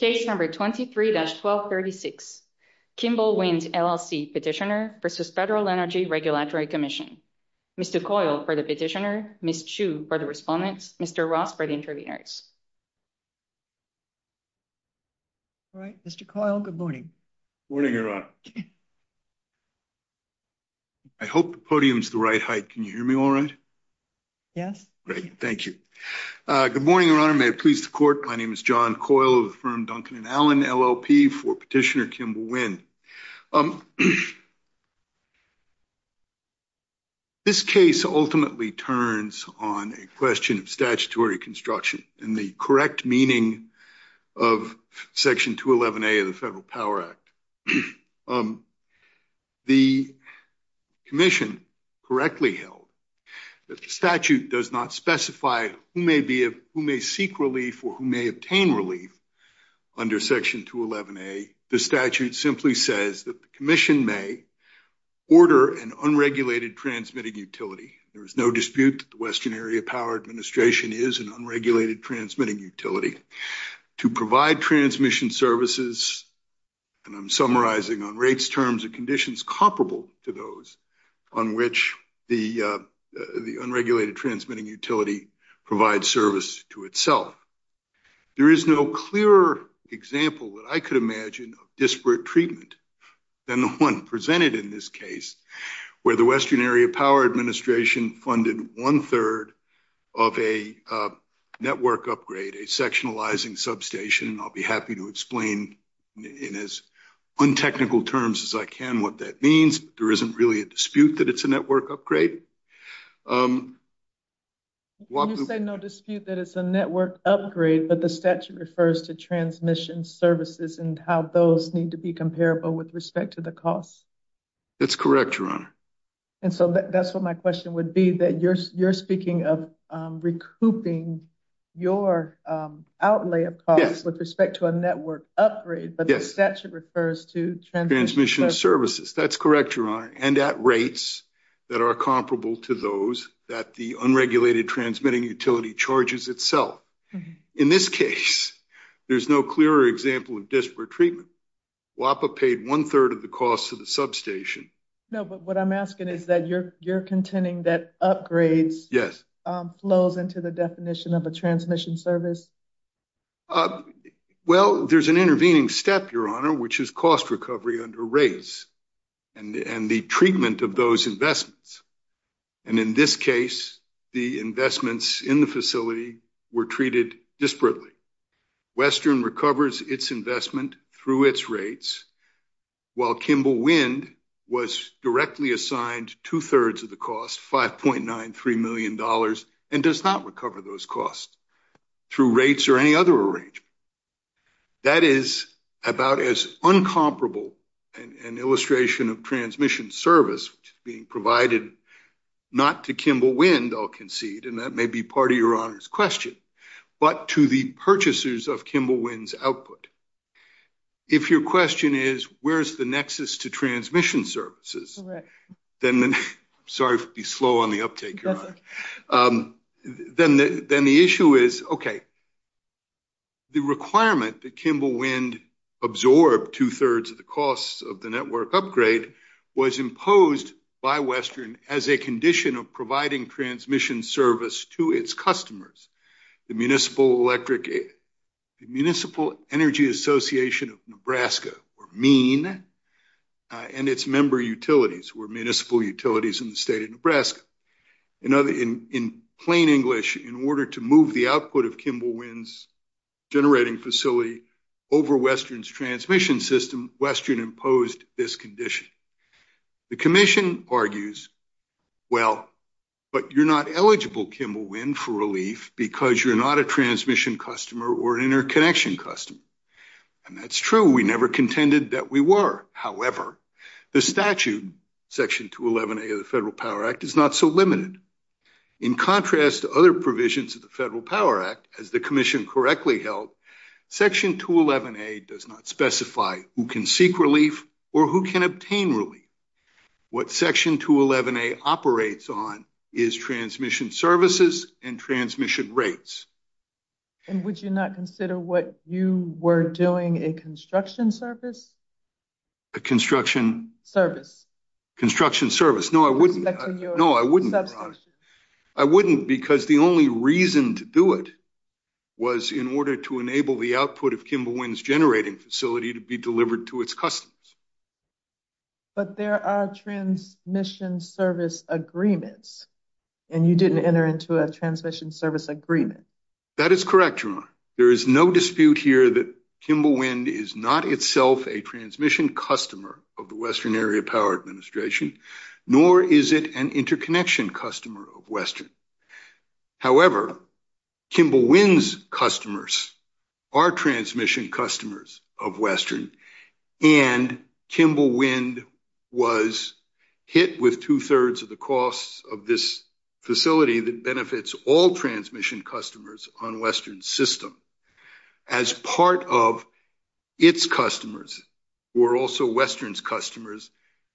Case number 23-1236, Kimball Wind, LLC petitioner versus Federal Energy Regulatory Commission. Mr. Coyle for the petitioner, Ms. Chu for the respondents, Mr. Ross for the interveners. All right, Mr. Coyle, good morning. Good morning, Your Honor. I hope the podium's the right height. Can you hear me all right? Yes. Great, thank you. Good morning, Your Honor. May it please the court, my name is John Coyle of the firm Duncan & Allen, LLP, for petitioner Kimball Wind. This case ultimately turns on a question of statutory construction and the correct meaning of Section 211A of the Federal Power Act. The commission correctly held that the statute does not specify who may seek relief or who may obtain relief under Section 211A. The statute simply says that the commission may order an unregulated transmitting utility. There is no dispute that the Western Area Power Administration is an unregulated transmitting utility. To provide transmission services, and I'm summarizing on rates, terms, and conditions comparable to those on which the unregulated transmitting utility provides service to itself. There is no clearer example that I could imagine of disparate treatment than the one presented in this case, where the Western Area Power Administration funded one-third of a network upgrade, a sectionalizing substation, and I'll be happy to explain in as untechnical terms as I can what that means. There isn't really a dispute that it's a network upgrade. You say no dispute that it's a network upgrade, but the statute refers to transmission services and how those need to be comparable with respect to the cost. That's correct, Your Honor. And so that's what my question would be, that you're speaking of recouping your outlay of costs with respect to a network upgrade, but the statute refers to transmission services. That's correct, Your Honor. And at rates that are comparable to those that the unregulated transmitting utility charges itself. In this case, there's no clearer example of disparate treatment. WAPA paid one-third of the cost of the substation. No, but what I'm asking is that you're contending that upgrades flows into the definition of a transmission service? Well, there's an intervening step, Your Honor, which is cost recovery under rates and the treatment of those investments. And in this case, the investments in the facility were treated disparately. Western recovers its investment through its rates, while Kimball Wind was directly assigned two-thirds of the cost, $5.93 million, and does not recover those costs through rates or any other arrangement. That is about as incomparable an illustration of transmission service being provided, not to Kimball Wind, I'll concede, and that may be part of Your Honor's question, but to the purchasers of Kimball Wind's output. If your question is, where's the nexus to transmission services? Correct. I'm sorry to be slow on the uptake, Your Honor. Then the issue is, okay, the requirement that Kimball Wind absorb two-thirds of the costs of the network upgrade was imposed by Western as a condition of providing transmission service to its customers. The Municipal Energy Association of Nebraska, or MEAN, and its member utilities, were municipal utilities in the state of Nebraska. In plain English, in order to move the output of Kimball Wind's generating facility over Western's transmission system, Western imposed this condition. The commission argues, well, but you're not eligible, Kimball Wind, for relief because you're not a transmission customer or interconnection customer. That's true. We never contended that we were. However, the statute, Section 211A of the Federal Power Act, is not so limited. In contrast to other provisions of the Federal Power Act, as the commission correctly held, Section 211A does not specify who can seek relief or who can obtain relief. What Section 211A operates on is transmission services and transmission rates. And would you not consider what you were doing a construction service? A construction service. Construction service. No, I wouldn't. No, I wouldn't. I wouldn't because the only reason to do it was in order to enable the output of Kimball Wind's generating facility to be delivered to its customers. But there are transmission service agreements, and you didn't enter into a transmission service agreement. That is correct, Jemima. There is no dispute here that Kimball Wind is not itself a transmission customer of the Western Area Power Administration, nor is it an interconnection customer of Western. However, Kimball Wind's customers are transmission customers of Western, and Kimball Wind was hit with two-thirds of the costs of this facility that benefits all transmission customers on Western's system as part of its customers, who are also Western's customers,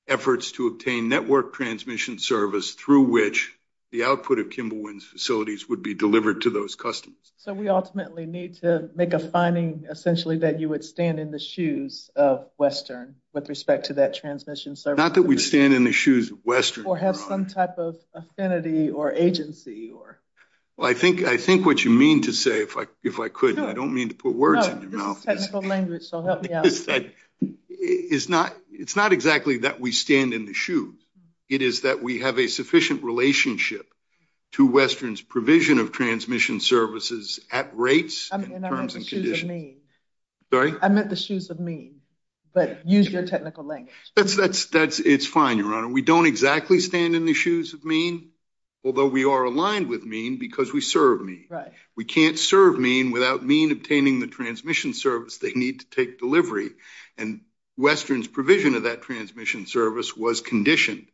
efforts to obtain network transmission service through which the output of Kimball Wind's facilities would be delivered to those customers. So we ultimately need to make a finding, essentially, that you would stand in the shoes of Western with respect to that transmission service. Not that we'd stand in the shoes of Western. Or have some type of affinity or agency. Well, I think what you mean to say, if I could, and I don't mean to put words in your mouth, is that it's not exactly that we stand in the shoes. It is that we have a sufficient relationship to Western's provision of transmission services at rates and terms and That's fine, Your Honor. We don't exactly stand in the shoes of MEAN, although we are aligned with MEAN because we serve MEAN. We can't serve MEAN without MEAN obtaining the transmission service they need to take delivery, and Western's provision of that transmission service was conditioned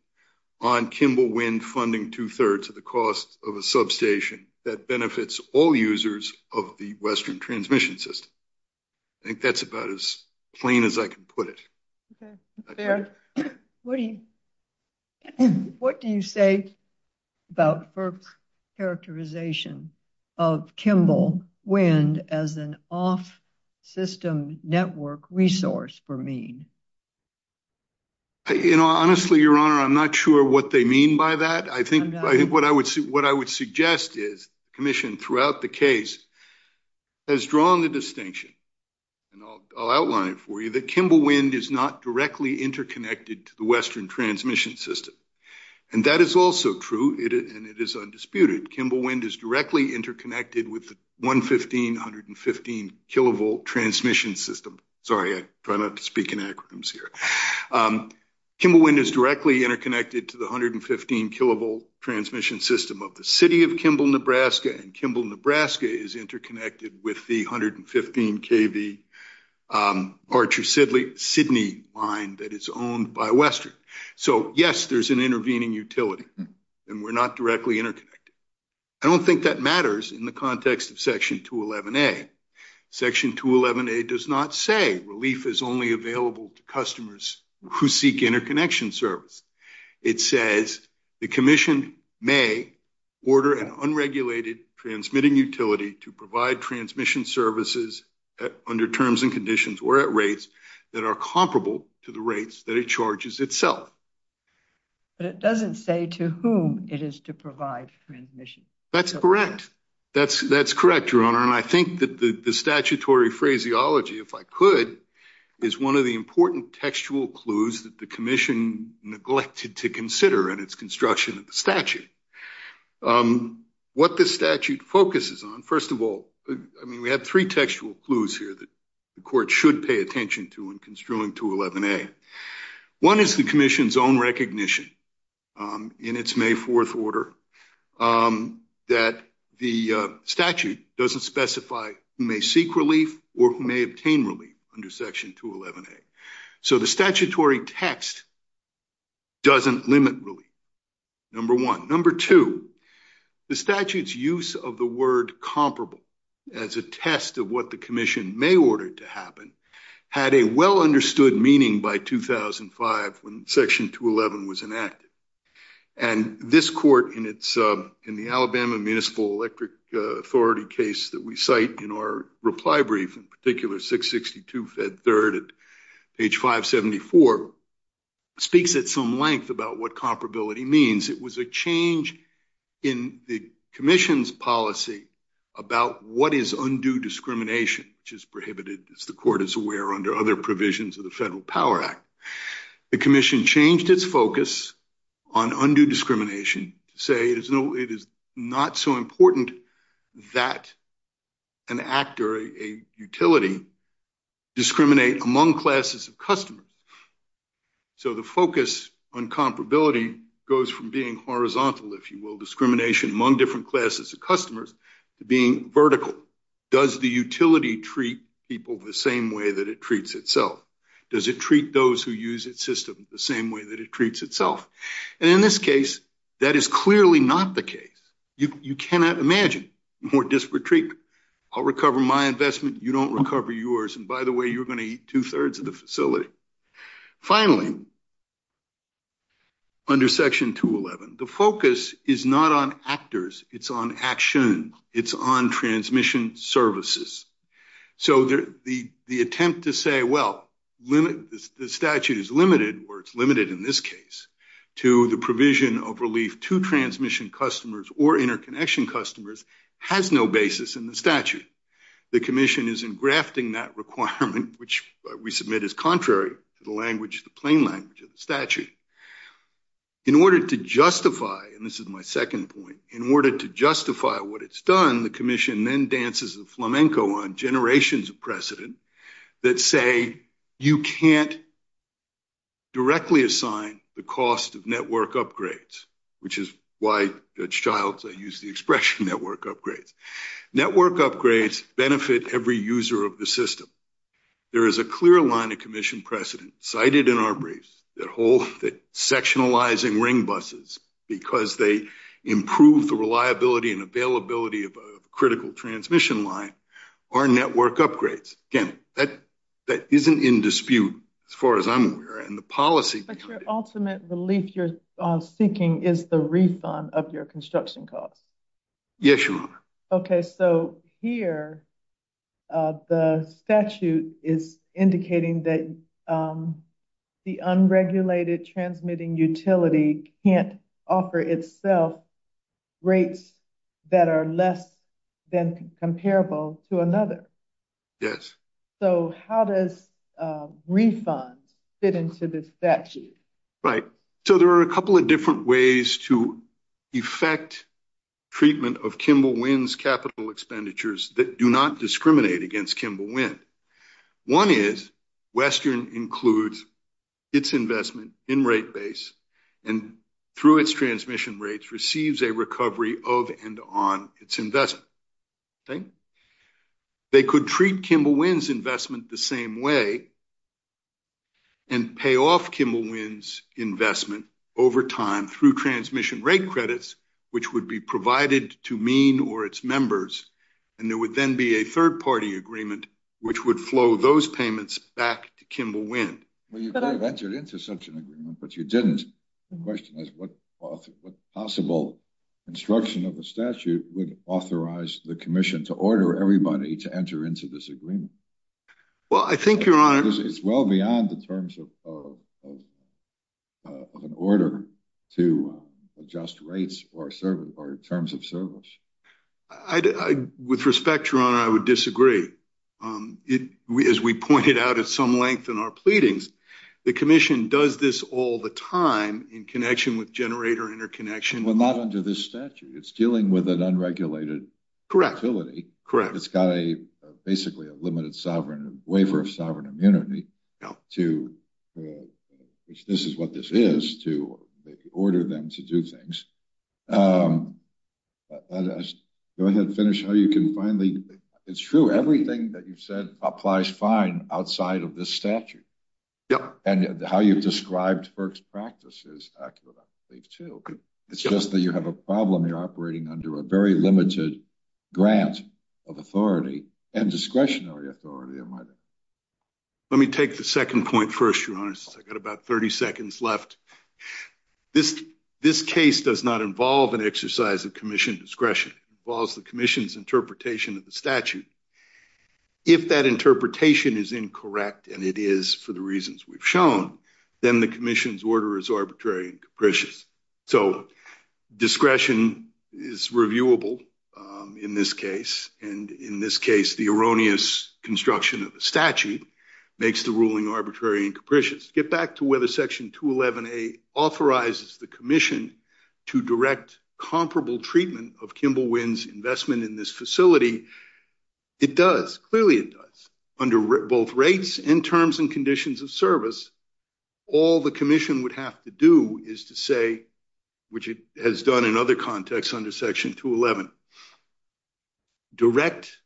on Kimball Wind funding two-thirds of the costs of a substation that benefits all users of the Western transmission system. I think that's about as plain as I can put it. Fair. What do you say about FERC's characterization of Kimball Wind as an off-system network resource for MEAN? You know, honestly, Your Honor, I'm not sure what they mean by that. I think what I would suggest is the Commission throughout the case has drawn the distinction, and I'll outline it for you, that Kimball Wind is not directly interconnected to the Western transmission system, and that is also true, and it is undisputed. Kimball Wind is directly interconnected with the 115 kilovolt transmission system. Sorry, I try not to speak in acronyms here. Kimball Wind is directly interconnected to the 115 kilovolt transmission system of the City of Kimball, Nebraska, and Kimball, Nebraska is interconnected with the 115 kV Archer-Sydney line that is owned by Western. So, yes, there's an intervening utility, and we're not directly interconnected. I don't think that matters in the context of Section 211A. Section 211A does not say relief is only available to customers who seek interconnection service. It says the Commission may order an unregulated transmitting utility to provide transmission services under terms and conditions or at rates that are comparable to the rates that it charges itself. But it doesn't say to whom it is to provide transmission. That's correct. That's correct, Your Honor, and I think that the statutory phraseology, if I could, is one of the important textual clues that the Commission neglected to consider in its construction of the statute. What the statute focuses on, first of all, I mean, we have three textual clues here that the Court should pay attention to in construing 211A. One is the Commission's own recognition in its May 4th order that the statute doesn't specify who may seek relief under Section 211A. So, the statutory text doesn't limit relief, number one. Number two, the statute's use of the word comparable as a test of what the Commission may order to happen had a well-understood meaning by 2005 when Section 211 was enacted, and this Court in the Alabama Municipal Electric Authority case that we cite in our reply brief, in particular 662 Fed 3rd at page 574, speaks at some length about what comparability means. It was a change in the Commission's policy about what is undue discrimination, which is prohibited, as the Court is aware, under other provisions of the Federal Power Act. The Commission changed its focus on undue discrimination to say it is not so important that an actor, a utility, discriminate among classes of customers. So, the focus on comparability goes from being horizontal, if you will, discrimination among different classes of customers, to being vertical. Does the utility treat people the same way that it treats itself? Does it treat those who use its system the same way that it treats itself? And in this case, that is clearly not the case. You cannot imagine more disparate treatment. I'll recover my investment. You don't recover yours. And by the way, you're going to eat two-thirds of the facility. Finally, under Section 211, the focus is not on actors. It's on action. It's on transmission services. So, the attempt to say, well, the statute is limited, or it's limited in this case, to the provision of relief to transmission customers or interconnection customers has no basis in the statute. The Commission is engrafting that requirement, which we submit is contrary to the plain language of the statute. In order to justify, and this is my second point, in order to justify what it's done, the Commission then dances the flamenco on generations of precedent that say you can't directly assign the cost of network upgrades, which is why, as childs, I use the expression network upgrades. Network upgrades benefit every user of the system. There is a clear line of Commission precedent cited in our briefs that sectionalizing ring buses, because they improve the reliability and availability of a critical transmission line, are network upgrades. Again, that isn't in dispute, as far as I'm aware, and the policy behind it. But your ultimate relief you're seeking is the refund of your construction costs. Yes, Your Honor. Okay. So, here, the statute is indicating that the unregulated transmitting utility can't offer itself rates that are less than comparable to another. So, how does refund fit into this statute? Right. So, there are a couple of different ways to effect treatment of Kimball Wind's capital expenditures that do not discriminate against Kimball Wind. One is Western includes its investment in rate base and, through its transmission rates, receives a recovery of and on its investment. Okay? They could treat Kimball Wind's investment the same way and pay off Kimball Wind's investment over time through transmission rate credits, which would be provided to MEAN or its members, and there would then be a third-party agreement which would flow those payments back to Kimball Wind. Well, you could have entered into such an agreement, but you didn't. The question is, what possible construction of the statute would authorize the Commission to order everybody to enter into this agreement? Well, I think, Your Honor— It's well beyond the terms of an order to adjust rates or terms of service. I— With respect, Your Honor, I would disagree. As we pointed out at some length in our pleadings, the Commission does this all the time in connection with generator interconnection. Well, not under this statute. It's dealing with an unregulated— Correct. —utility. Correct. It's got a—basically, a limited sovereign waiver of sovereign immunity to—which this is what this is—to order them to do things. Go ahead and finish how you can finally—it's true, everything that you've said applies fine outside of this statute. Yep. And how you've described FERC's practices, I believe, too, but it's just that you have a problem. You're operating under a very limited grant of authority and discretionary authority, am I right? Let me take the second point first, Your Honor, since I've got about 30 seconds left. This case does not involve an exercise of Commission discretion. It involves the Commission's interpretation of the statute. If that interpretation is incorrect, and it is for the reasons we've shown, then the Commission's order is arbitrary and capricious. So discretion is reviewable in this case, and in this case, the erroneous construction of the statute makes the ruling arbitrary and capricious. To get back to whether Section 211A authorizes the Commission to direct comparable treatment of Kimball Wynne's investment in this facility, it does. Clearly, it does. Under both rates and terms and conditions of service, all the Commission would have to do is to say—which it has done in other contexts under Section 211—direct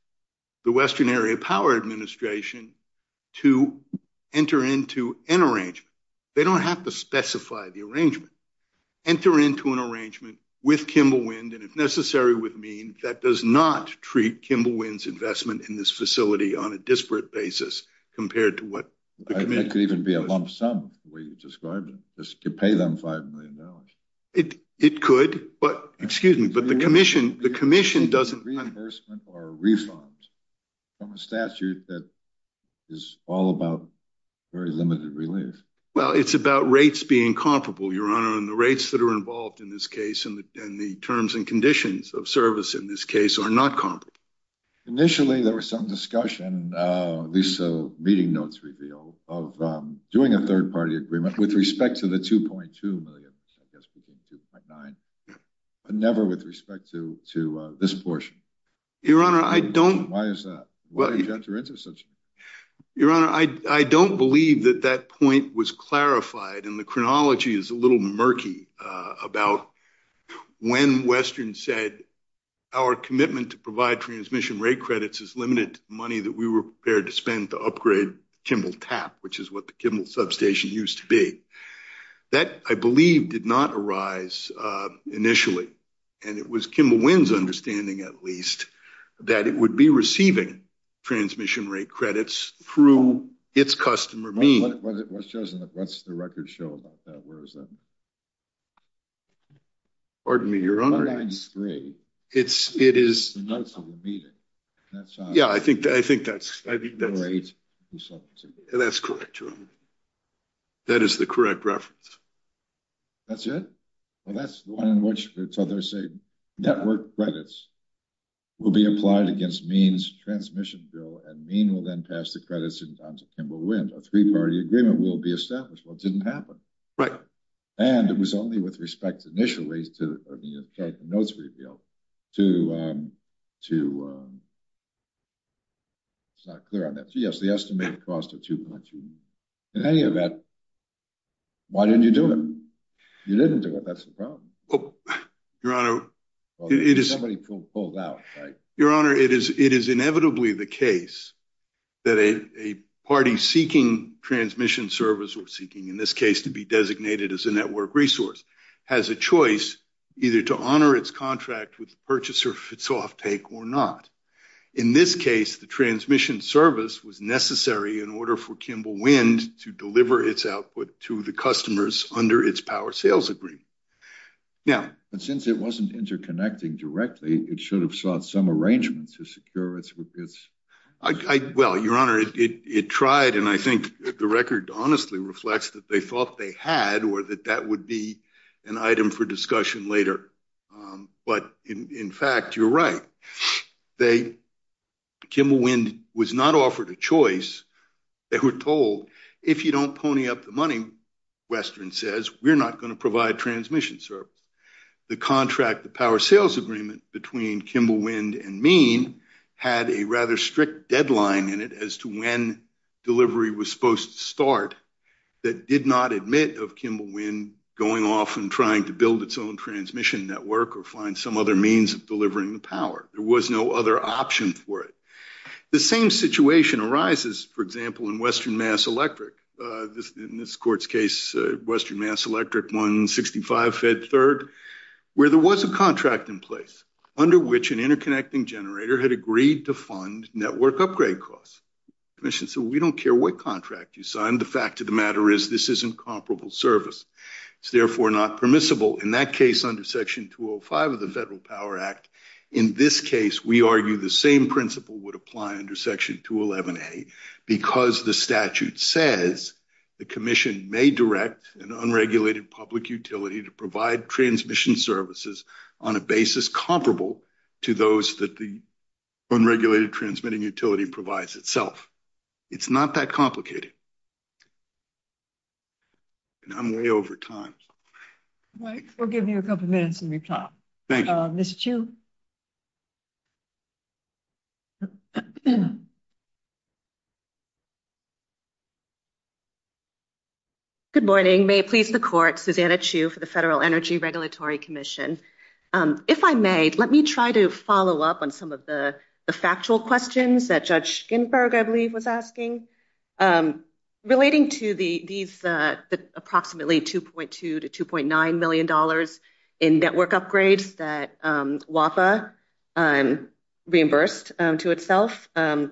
the Western Area Power Administration to enter into an arrangement. They don't have to specify the arrangement. Enter into an arrangement with Kimball Wynne, and if necessary with mean, that does not treat Kimball Wynne's investment in this facility on a disparate basis compared to what the Commission— It could even be a lump sum, the way you described it. You pay them $5 million. It could, but—excuse me, but the Commission doesn't— Reimbursement or refund from a statute that is all about very limited relief. Well, it's about rates being comparable, Your Honor, and the rates that are involved in this case and the terms and conditions of service in this case are not comparable. Initially, there was some discussion, at least the meeting notes reveal, of doing a third-party agreement with respect to the $2.2 million, I guess between 2.9, never with respect to this portion. Why is that? Why did you enter into such— Your Honor, I don't believe that that point was clarified, and the chronology is a little murky about when Western said, our commitment to provide transmission rate credits is limited to the money that we were prepared to spend to upgrade Kimball TAP, which is what the Kimball substation used to That, I believe, did not arise initially, and it was Kimball Wynn's understanding, at least, that it would be receiving transmission rate credits through its customer mean. What's the record show about that? Where is that? Pardon me, Your Honor. $1.93, the notes of the meeting. Yeah, I think that's correct, Your Honor. That is the correct reference. That's it? Well, that's the one in which it says, network credits will be applied against Mean's transmission bill, and Mean will then pass the credits on to Kimball Wynn. A three-party agreement will be established. Well, it didn't happen. Right. And it was only with respect, initially, to the notes reveal, to— In any event, why didn't you do it? You didn't do it. That's the problem. Your Honor, it is— Somebody pulled out, right? Your Honor, it is inevitably the case that a party seeking transmission service, or seeking, in this case, to be designated as a network resource, has a choice either to honor its contract with the purchaser, if it's off take, or not. In this case, the transmission service was necessary in order for Kimball Wynn to deliver its output to the customers under its power sales agreement. Now— But since it wasn't interconnecting directly, it should have sought some arrangement to secure its— Well, Your Honor, it tried, and I think the record honestly reflects that they thought they had, or that that would be an item for discussion later. But in fact, you're right. They— Kimball Wynn was not offered a choice. They were told, if you don't pony up the money, Western says, we're not going to provide transmission service. The contract, the power sales agreement, between Kimball Wynn and Meen had a rather strict deadline in it as to when delivery was supposed to start that did not admit of Kimball Wynn going off and trying to build its own transmission network or find some other means of delivering the power. There was no other option for it. The same situation arises, for example, in Western Mass Electric, in this court's case, Western Mass Electric, 165 Fed Third, where there was a contract in place under which an interconnecting generator had agreed to fund network upgrade costs. So we don't care what contract you signed. The fact of the matter is this is incomparable service. It's therefore not permissible. In that case, under Section 205 of the Federal Power Act, in this case, we argue the same principle would apply under Section 211A, because the statute says the commission may direct an unregulated public utility to provide transmission services on a basis comparable to those that the unregulated transmitting utility provides itself. It's not that complicated. And I'm way over time. We'll give you a couple minutes and we'll talk. Thank you. Ms. Chu. Good morning. May it please the Court, Susanna Chu for the Federal Energy Regulatory Commission. If I may, let me try to follow up on some of the factual questions that Judge Ginsburg, I believe, was asking. Relating to these approximately $2.2 to $2.9 million in network upgrades that WAPA reimbursed to itself, at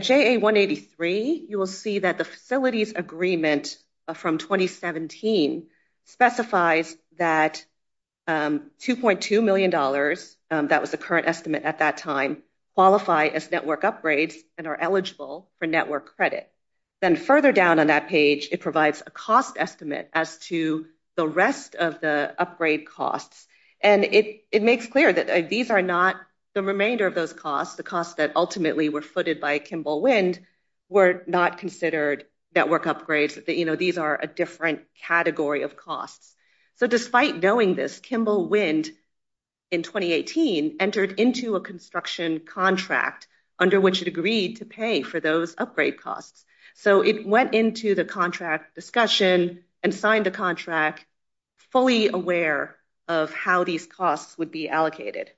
JA183, you will see that the facilities agreement from 2017 specifies that $2.2 million, that was the current estimate at that time, qualify as network upgrades and are eligible for network credit. Then further down on that page, it provides a cost estimate as to the rest of the upgrade costs. And it makes clear that these are not, the remainder of those costs, the costs that ultimately were footed by Kimball Wind, were not considered network upgrades. These are a different category of costs. So despite knowing this, Kimball Wind, in 2018, entered into a construction contract under which it agreed to pay for those upgrade costs. So it went into the contract discussion and signed a contract fully aware of how these costs would be allocated.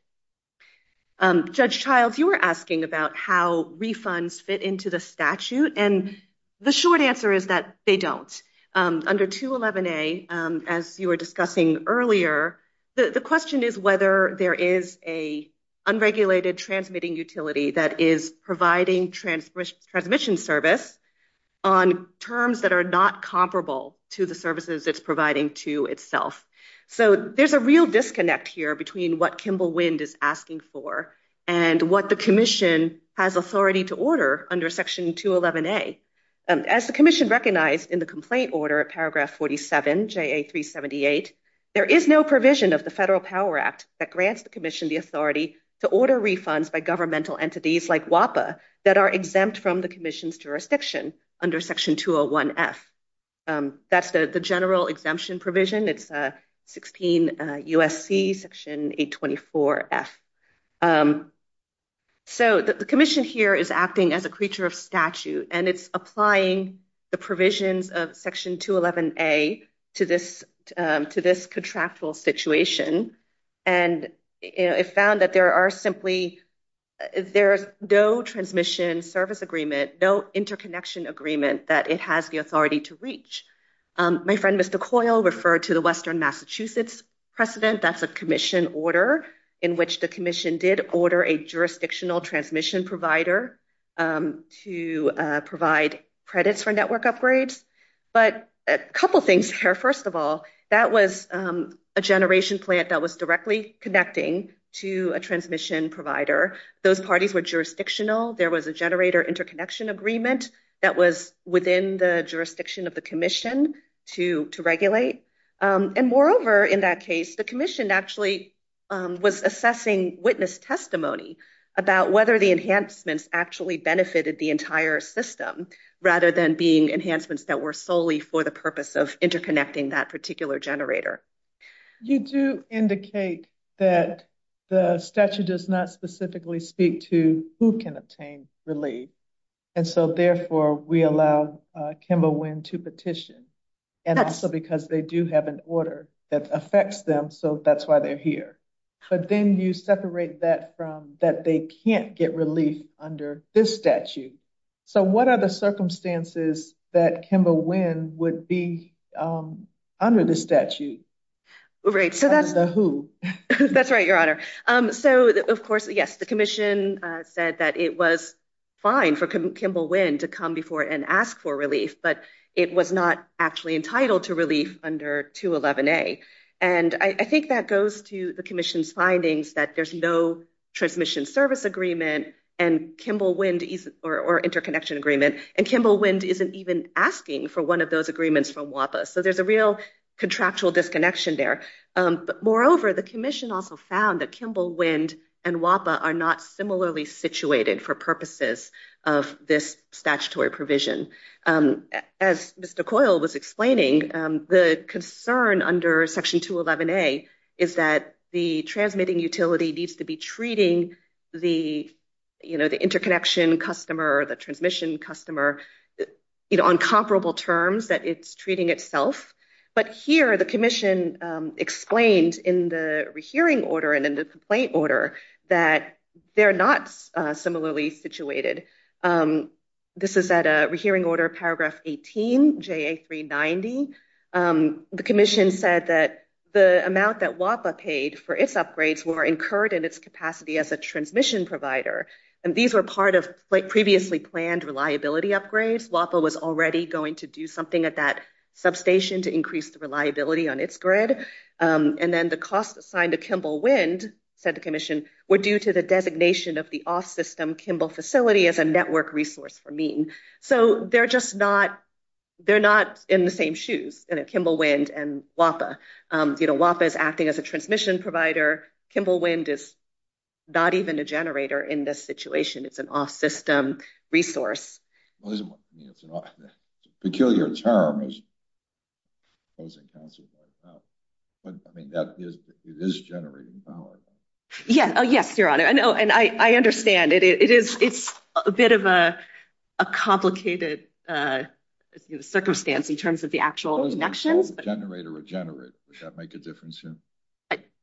Judge Childs, you were asking about how refunds fit into the statute, and the short answer is that they don't. Under 211A, as you were discussing earlier, the question is whether there is a unregulated transmitting utility that is providing transmission service on terms that are not comparable to the services it's providing to itself. So there's a real disconnect here between what Kimball Wind is asking for and what the commission has authority to order under section 211A. As the commission recognized in the complaint order at paragraph 47, JA 378, there is no provision of the Federal Power Act that grants the commission the authority to order refunds by governmental entities like WAPA that are exempt from the commission's jurisdiction under section 201F. That's the general exemption provision. It's 16 USC section 824F. So the commission here is acting as a creature of statute, and it's applying the provisions of section 211A to this contractual situation, and it found that there are simply there's no transmission service agreement, no interconnection agreement that it has the authority to reach. My friend Mr. Coyle referred to the Western Massachusetts precedent. That's a order in which the commission did order a jurisdictional transmission provider to provide credits for network upgrades. But a couple things here. First of all, that was a generation plant that was directly connecting to a transmission provider. Those parties were jurisdictional. There was a generator interconnection agreement that was within the jurisdiction of the commission to regulate. And moreover, in that case, the commission actually was assessing witness testimony about whether the enhancements actually benefited the entire system rather than being enhancements that were solely for the purpose of interconnecting that particular generator. You do indicate that the statute does not specifically speak to who can obtain relief, and so therefore we allow Kimba Winn to petition. And also because they do have an order that affects them, so that's why they're here. But then you separate that from that they can't get relief under this statute. So what are the circumstances that Kimba Winn would be under the statute? Right, so that's the who. That's right, your honor. So of course, yes, the commission said that it was fine for Kimba Winn to come before and ask for relief, but it was not actually entitled to relief under 211A. And I think that goes to the commission's findings that there's no transmission service agreement and Kimba Winn or interconnection agreement, and Kimba Winn isn't even asking for one of those agreements from WAPA. So there's a real contractual disconnection there. But moreover, the commission also found that Kimba Winn and WAPA are not similarly situated for purposes of this statutory provision. As Mr. Coyle was explaining, the concern under Section 211A is that the transmitting utility needs to be treating the interconnection customer, the transmission customer, on comparable terms that it's treating itself. But here, the commission explained in the rehearing order and in the complaint order that they're not similarly situated. This is at a rehearing order, paragraph 18, JA390. The commission said that the amount that WAPA paid for its upgrades were incurred in its capacity as a transmission provider. And these were part of previously planned reliability upgrades. WAPA was already going to do something at that substation to increase the reliability on its grid. And then the cost assigned to Kimba Winn, said the commission, were due to the designation of the off-system Kimba facility as a network resource for mean. So they're just not, they're not in the same shoes, Kimba Winn and WAPA. You know, WAPA is acting as a transmission provider. Kimba Winn is not even a generator in this situation. It's an off-system resource. Well, it's a peculiar term. I mean, that is, it is generating power. Yeah. Oh yes, your honor. I know. And I, I understand it. It is, it's a bit of a, a complicated circumstance in terms of the actual connections. It doesn't matter if it's a generator or a generator. Would that make a difference here?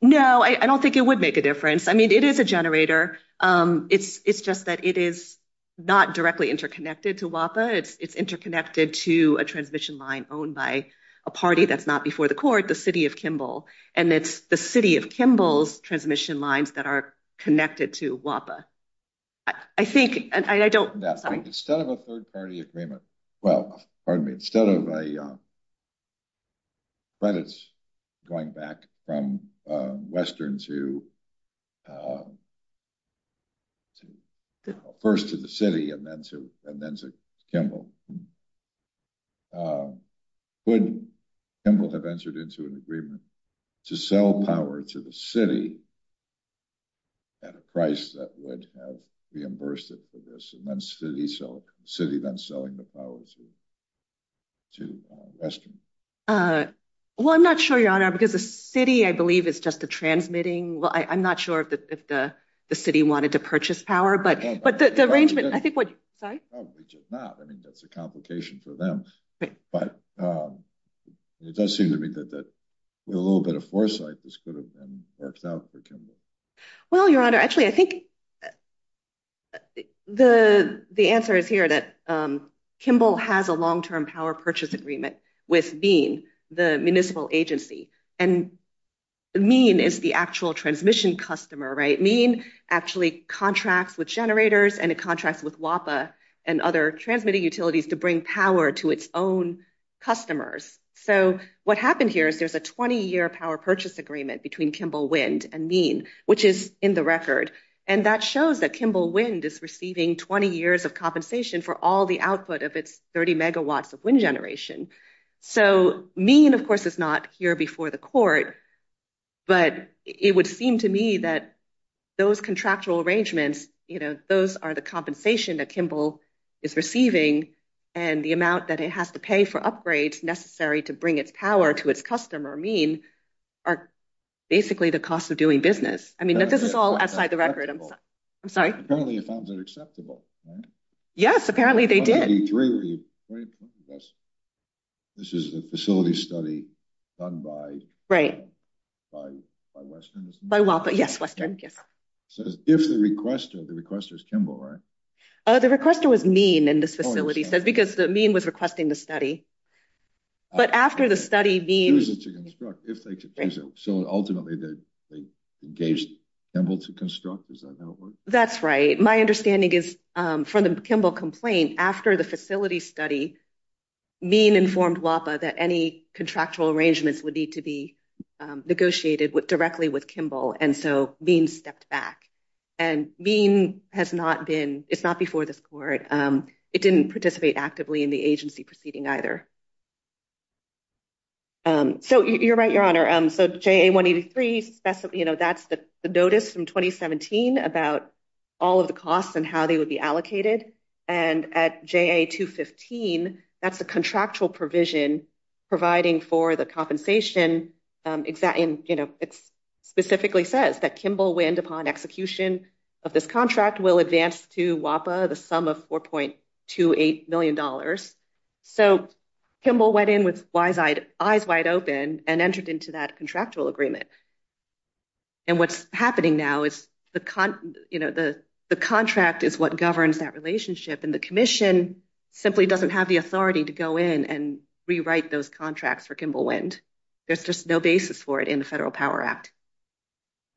No, I don't think it would make a difference. I mean, it is a generator. It's, it's just that it is not directly interconnected to WAPA. It's, it's interconnected to a transmission line owned by a party that's not before the court, the city of Kimball. And it's the city of Kimball's transmission lines that are connected to WAPA. I think, and I don't, sorry. Instead of a third-party agreement, well, pardon me, instead of a, credits going back from Western to, to, first to the city and then to, and then to Kimball, would Kimball have entered into an agreement to sell power to the city at a price that would have reimbursed it for this? And then the city then selling the power to, to Western? Uh, well, I'm not sure your honor, because the city, I believe is just a transmitting. Well, I, I'm not sure if the, if the, the city wanted to purchase power, but, but the arrangement, I think what, sorry. Probably just not. I mean, that's a complication for them, but, um, it does seem to me that, that with a little bit of foresight, this could have worked out for Kimball. Well, your honor, actually, I think the, the answer is here that, um, Kimball has a long-term power purchase agreement with being the municipal agency and mean is the actual transmission customer, right? Mean actually contracts with generators and it contracts with WAPA and other transmitting utilities to bring power to its own customers. So what happened here is there's a 20 year power purchase agreement between Kimball wind and mean, which is in the record. And that shows that Kimball wind is receiving 20 years of compensation for all the output of its 30 megawatts of wind generation. So mean, of course, it's not here before the court, but it would seem to me that those contractual arrangements, you know, those are the compensation that Kimball is receiving and the amount that it has to pay for upgrades necessary to bring its power to its customer mean are basically the cost of doing business. I mean, this is all outside the record. I'm sorry. I'm sorry. Right. Yes, apparently they did. This is the facility study done by, right. By, by Western, by WAPA. Yes. Western. Yes. So if the requester, the requester is Kimball, right? Oh, the requester was mean and this facility says, because the mean was requesting the study, but after the study being used to construct, if they could do so. So ultimately they engaged Kimball to construct. That's right. My understanding is from the Kimball complaint after the facility study mean informed WAPA that any contractual arrangements would need to be negotiated with directly with Kimball. And so being stepped back and mean has not been, it's not before this court. It didn't participate actively in the agency proceeding either. So you're right, your honor. So JA 183, you know, that's the notice from 2017 about all of the costs and how they would be allocated. And at JA 215, that's the contractual provision providing for the compensation exact in, you know, it's specifically says that Kimball wind upon execution of this contract will advance to WAPA, the sum of $4.28 million. So, Kimball went in with eyes wide open and entered into that contractual agreement. And what's happening now is the, you know, the contract is what governs that relationship and the commission simply doesn't have the authority to go in and rewrite those contracts for Kimball wind. There's just no basis for it in the federal power act.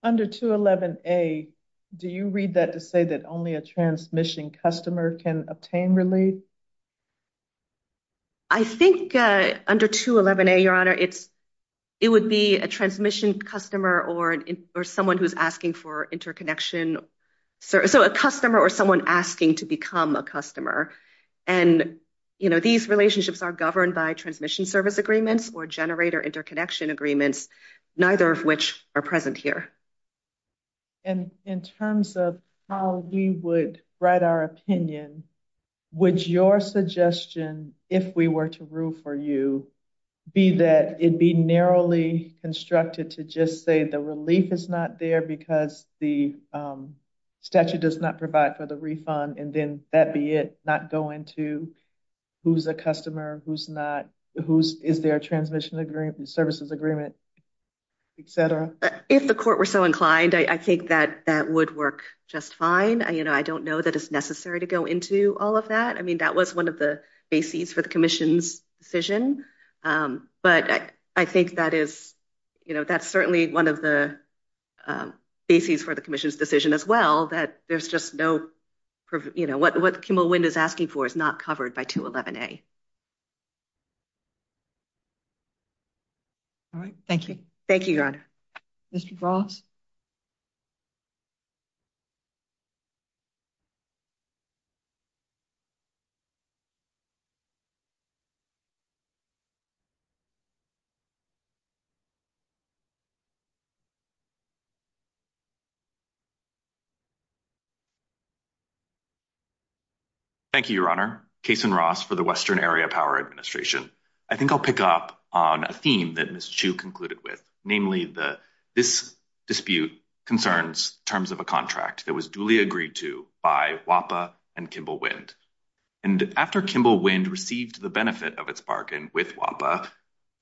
Under 211A, do you read that to say only a transmission customer can obtain relief? I think under 211A, your honor, it's, it would be a transmission customer or someone who's asking for interconnection. So a customer or someone asking to become a customer. And, you know, these relationships are governed by transmission service agreements or generator interconnection agreements, neither of which are present here. And in terms of how we would write our opinion, would your suggestion, if we were to rule for you, be that it'd be narrowly constructed to just say the relief is not there because the statute does not provide for the refund. And then that be it, not go into who's a customer, who's not, who's, is there a transmission agreement, services agreement, et cetera. If the court were so inclined, I think that that would work just fine. I, you know, I don't know that it's necessary to go into all of that. I mean, that was one of the bases for the commission's decision. But I think that is, you know, that's certainly one of the bases for the commission's decision as well, that there's just no, you know, what Kimmel Wind is asking for is not covered by 211A. All right. Thank you. Thank you, Your Honor. Mr. Frost. Thank you, Your Honor. Kason Ross for the Western Area Power Administration. I think I'll pick up on a theme that Ms. Chu concluded with, namely the, this dispute concerns terms of a contract that was duly agreed to by WAPA and Kimmel Wind. And after Kimmel Wind received the benefit of its bargain with WAPA,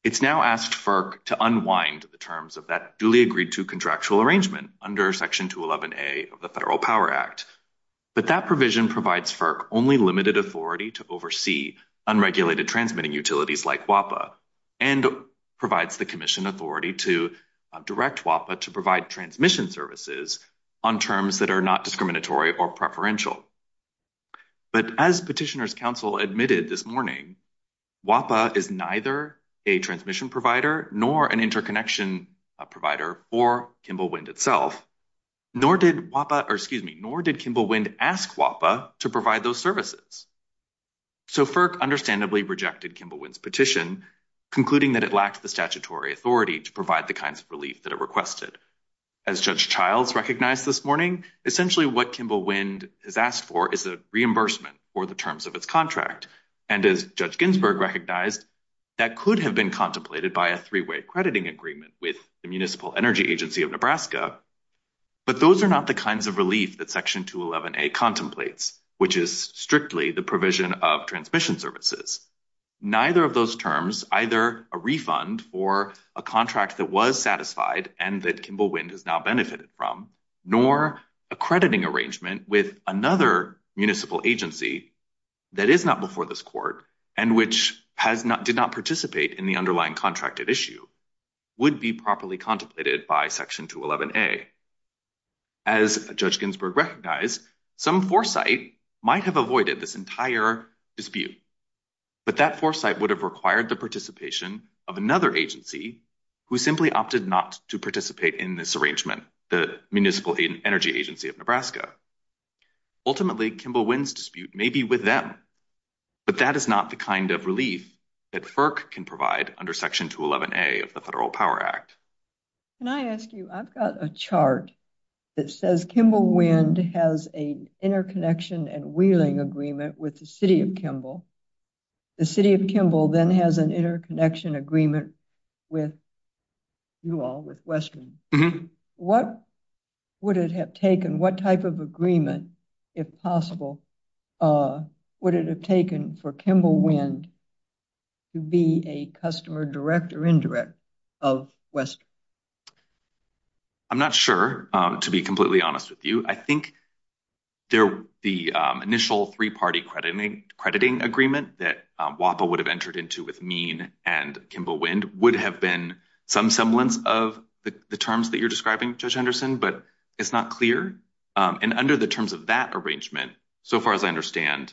it's now asked FERC to unwind the terms of that duly agreed to contractual arrangement under Section 211A of the Federal Power Act. But that provision provides FERC only limited authority to oversee unregulated transmitting utilities like WAPA and provides the commission authority to direct WAPA to provide transmission services on terms that are not discriminatory or preferential. But as Petitioner's Counsel admitted this morning, WAPA is neither a transmission provider nor an interconnection provider for Kimmel Wind itself, nor did WAPA, or excuse me, nor did Kimmel Wind ask WAPA to provide those services. So FERC understandably rejected Kimmel Wind's petition, concluding that it lacked the statutory authority to provide the kinds of relief that it requested. As Judge Childs recognized this morning, essentially what Kimmel Wind has asked for is a reimbursement for the terms of its contract. And as Judge Ginsburg recognized, that could have been contemplated by a three-way crediting agreement with the Municipal Energy Agency of Nebraska, but those are not the kinds of relief that Section 211A contemplates, which is strictly the provision of transmission services. Neither of those terms, either a refund for a contract that was satisfied and that Kimmel Wind has now benefited from, nor a crediting arrangement with another municipal agency that is not before this Court and which did not participate in the underlying contracted issue would be properly contemplated by Section 211A. As Judge Ginsburg recognized, some foresight might have avoided this entire dispute, but that foresight would have required the participation of another agency who simply opted not to participate in this the Municipal Energy Agency of Nebraska. Ultimately, Kimmel Wind's dispute may be with them, but that is not the kind of relief that FERC can provide under Section 211A of the Federal Power Act. Can I ask you, I've got a chart that says Kimmel Wind has an interconnection and wheeling agreement with the City of Kimmel. The City of Kimmel then has an interconnection agreement with you all, with Western. What would it have taken, what type of agreement, if possible, would it have taken for Kimmel Wind to be a customer direct or indirect of Western? I'm not sure, to be completely honest with you. I think the initial three-party crediting agreement that WAPA would have entered into with MEAN and Kimmel Wind would have been some semblance of the terms that you're describing, Judge Henderson, but it's not clear. And under the terms of that arrangement, so far as I understand,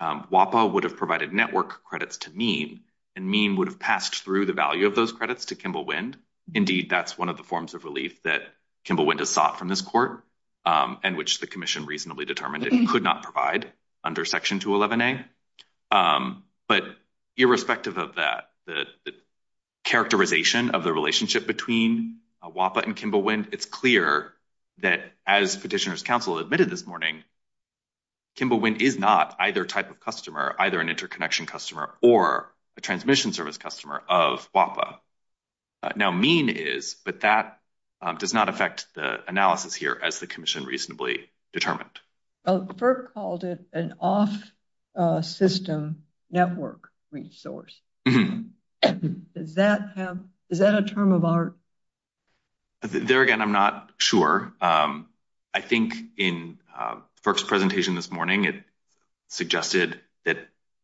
WAPA would have provided network credits to MEAN and MEAN would have passed through the value of those credits to Kimmel Wind. Indeed, that's one of the forms of relief that Kimmel Wind has sought from this Court and which the Commission reasonably determined it could not provide under Section 211a. But irrespective of that, the characterization of the relationship between WAPA and Kimmel Wind, it's clear that as Petitioners' Counsel admitted this morning, Kimmel Wind is not either type of customer, either an interconnection customer or a transmission service customer of WAPA. Now, MEAN is, but that does not affect the analysis here as the Commission reasonably determined. FERC called it an off-system network resource. Is that a term of art? There again, I'm not sure. I think in FERC's presentation this morning, it suggested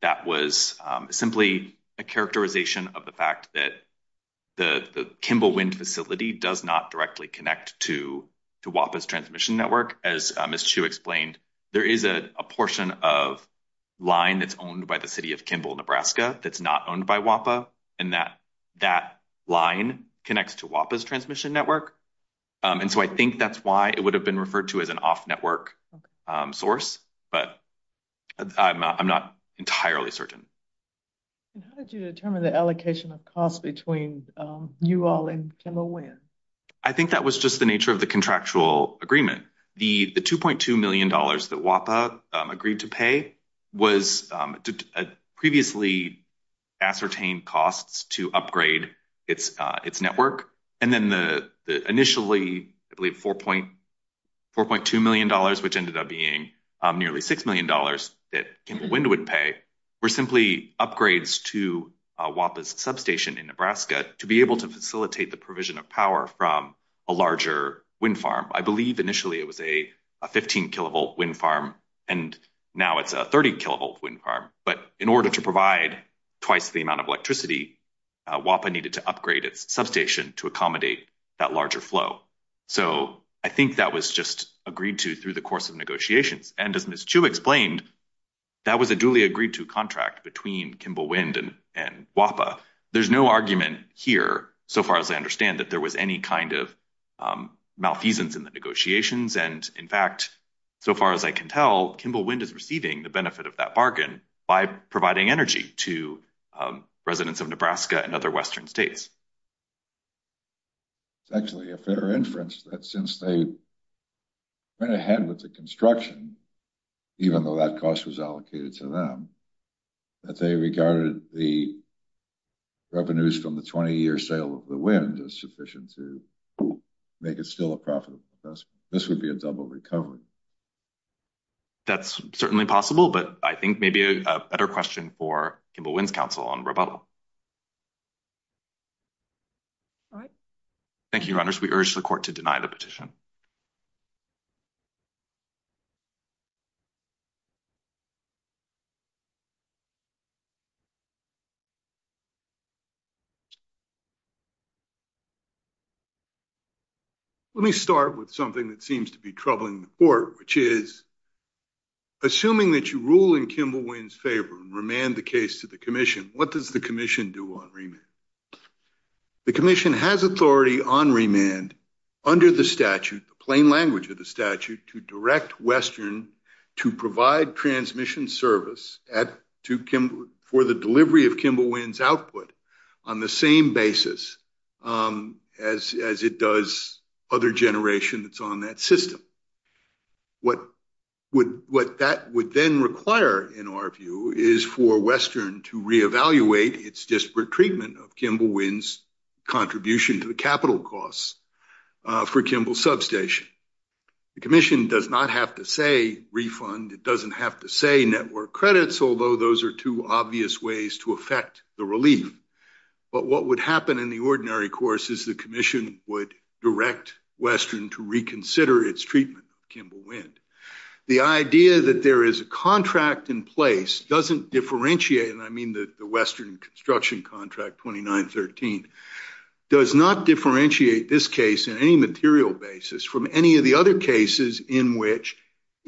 that was simply a characterization of the fact that the Kimmel Wind facility does not directly connect to WAPA's transmission network. As Ms. Chu explained, there is a portion of line that's owned by the City of Kimmel, Nebraska, that's not owned by WAPA, and that line connects to WAPA's transmission network. And so I think that's why it would have been referred to as an off-network source, but I'm not entirely certain. How did you determine the allocation of costs between you all and Kimmel Wind? I think that was just the nature of the contractual agreement. The $2.2 million that WAPA agreed to pay was previously ascertained costs to upgrade its network. And then the initially, I believe, $4.2 million, which ended up being nearly $6 million that Kimmel Wind would pay, were simply upgrades to WAPA's substation in Nebraska to be able to facilitate the provision of power from a larger wind farm. I believe initially it was a 15-kilovolt wind farm, and now it's a 30-kilovolt wind farm. But in order to provide twice the amount of electricity, WAPA needed to upgrade its substation to accommodate that larger flow. So I think that was just agreed to through the course of negotiations. And as Ms. Chu explained, that was a duly agreed-to contract between Kimmel Wind and WAPA. There's no argument here, so far as I understand, that there was any kind of malfeasance in the negotiations. And in fact, so far as I can tell, Kimmel Wind is receiving the benefit of that bargain by providing energy to residents of Nebraska and other western states. It's actually a fair inference that since they went ahead with the construction, even though that cost was allocated to them, that they regarded the revenues from the 20-year sale of the wind as sufficient to make it still a profitable investment. This would be a double recovery. That's certainly possible, but I think maybe a better question for Kimmel Wind's counsel on rebuttal. All right. Thank you, Your Honors. We urge the Court to deny the petition. Let me start with something that seems to be troubling the Court, which is assuming that you rule in Kimmel Wind's favor and remand the case to the Commission, what does the Commission do on remand? The Commission has authority on remand under the statute, the plain language of the statute, to direct Western to provide transmission service for the delivery of Kimmel Wind's output on the same basis as it does other generation that's on that system. What that would then require, in our view, is for Western to re-evaluate its disparate treatment of Kimmel Wind's contribution to the capital costs for Kimmel substation. The Commission does not have to say refund. It doesn't have to say network credits, although those are two obvious ways to affect the relief. But what would happen in the ordinary course is the Commission would direct Western to reconsider its treatment of Kimmel Wind. The idea that there is a contract in place doesn't differentiate, and I mean the Western construction contract 2913, does not differentiate this case in any material basis from any of the other cases in which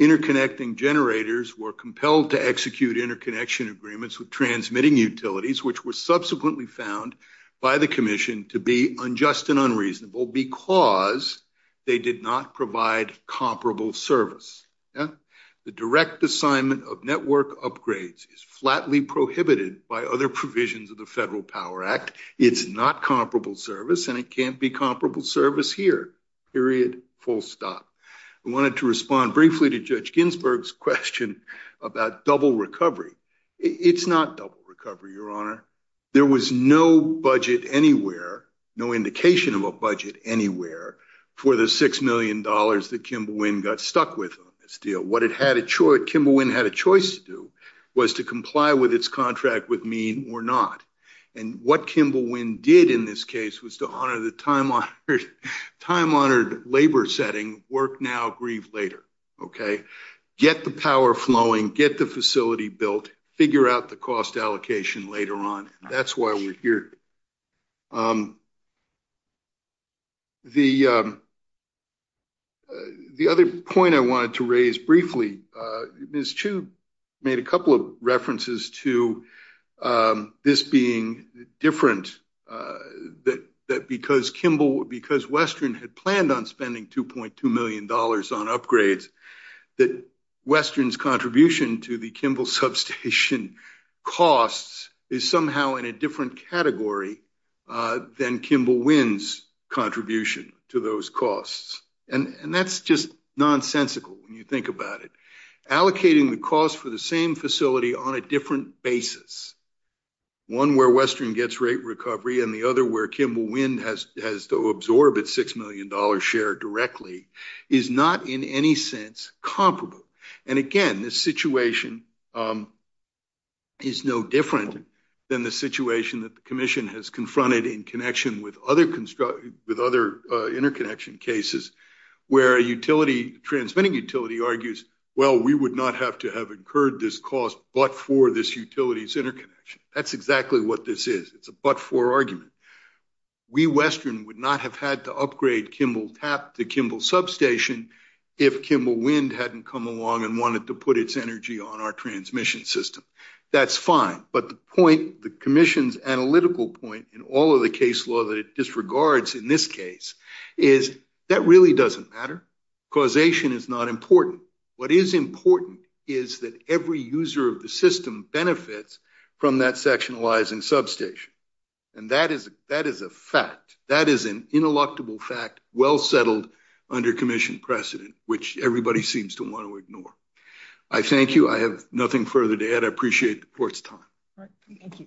interconnecting generators were compelled to execute interconnection agreements with transmitting utilities, which were subsequently found by the Commission to be unjust and unreasonable because they did not provide comparable service. The direct assignment of network upgrades is flatly prohibited by other provisions of the Federal Power Act. It's not comparable service, and it can't be comparable service here, period, full stop. I wanted to respond briefly to Judge Ginsburg's question about double recovery. It's not double recovery, Your Honor. There was no budget anywhere, no indication of a budget anywhere for the $6 million that Kimmel Wind got stuck with on this deal. What Kimmel Wind had a choice to do was to comply with its contract with me or not. And what Kimmel Wind did in this case was to honor the time-honored labor setting, work now, grieve later, okay? Get the power flowing, get the facility built, figure out the cost allocation later on. That's why we're here. The other point I wanted to raise briefly, Ms. Chu made a couple of references to this being different, that because Kimmel, because Western had planned on spending $2.2 million on upgrades, that Western's contribution to the Kimmel substation costs is somehow in a different category than Kimmel Wind's contribution to those costs. And that's just nonsensical when you think about it. Allocating the cost for the same facility on a different basis, one where Western gets rate recovery and the other where Kimmel Wind has to absorb its $6 million share directly, is not in any sense comparable. And again, this situation is no different than the situation that the commission has confronted in connection with other construction, with other interconnection cases where a utility, transmitting utility argues, well, we would not have to have incurred this cost but for this utility's interconnection. That's exactly what this is. It's a but-for argument. We, Western, would not have had to upgrade Kimmel Tap, the Kimmel substation, if Kimmel Wind hadn't come along and wanted to put its energy on our transmission system. That's fine. But the point, the commission's analytical point in all of the case law that it disregards in this case, is that really doesn't matter. Causation is not important. What is important is that every user of the system benefits from that sectionalizing substation. And that is a fact. That is an ineluctable fact, well settled under precedent, which everybody seems to want to ignore. I thank you. I have nothing further to add. I appreciate the court's time. All right. Thank you.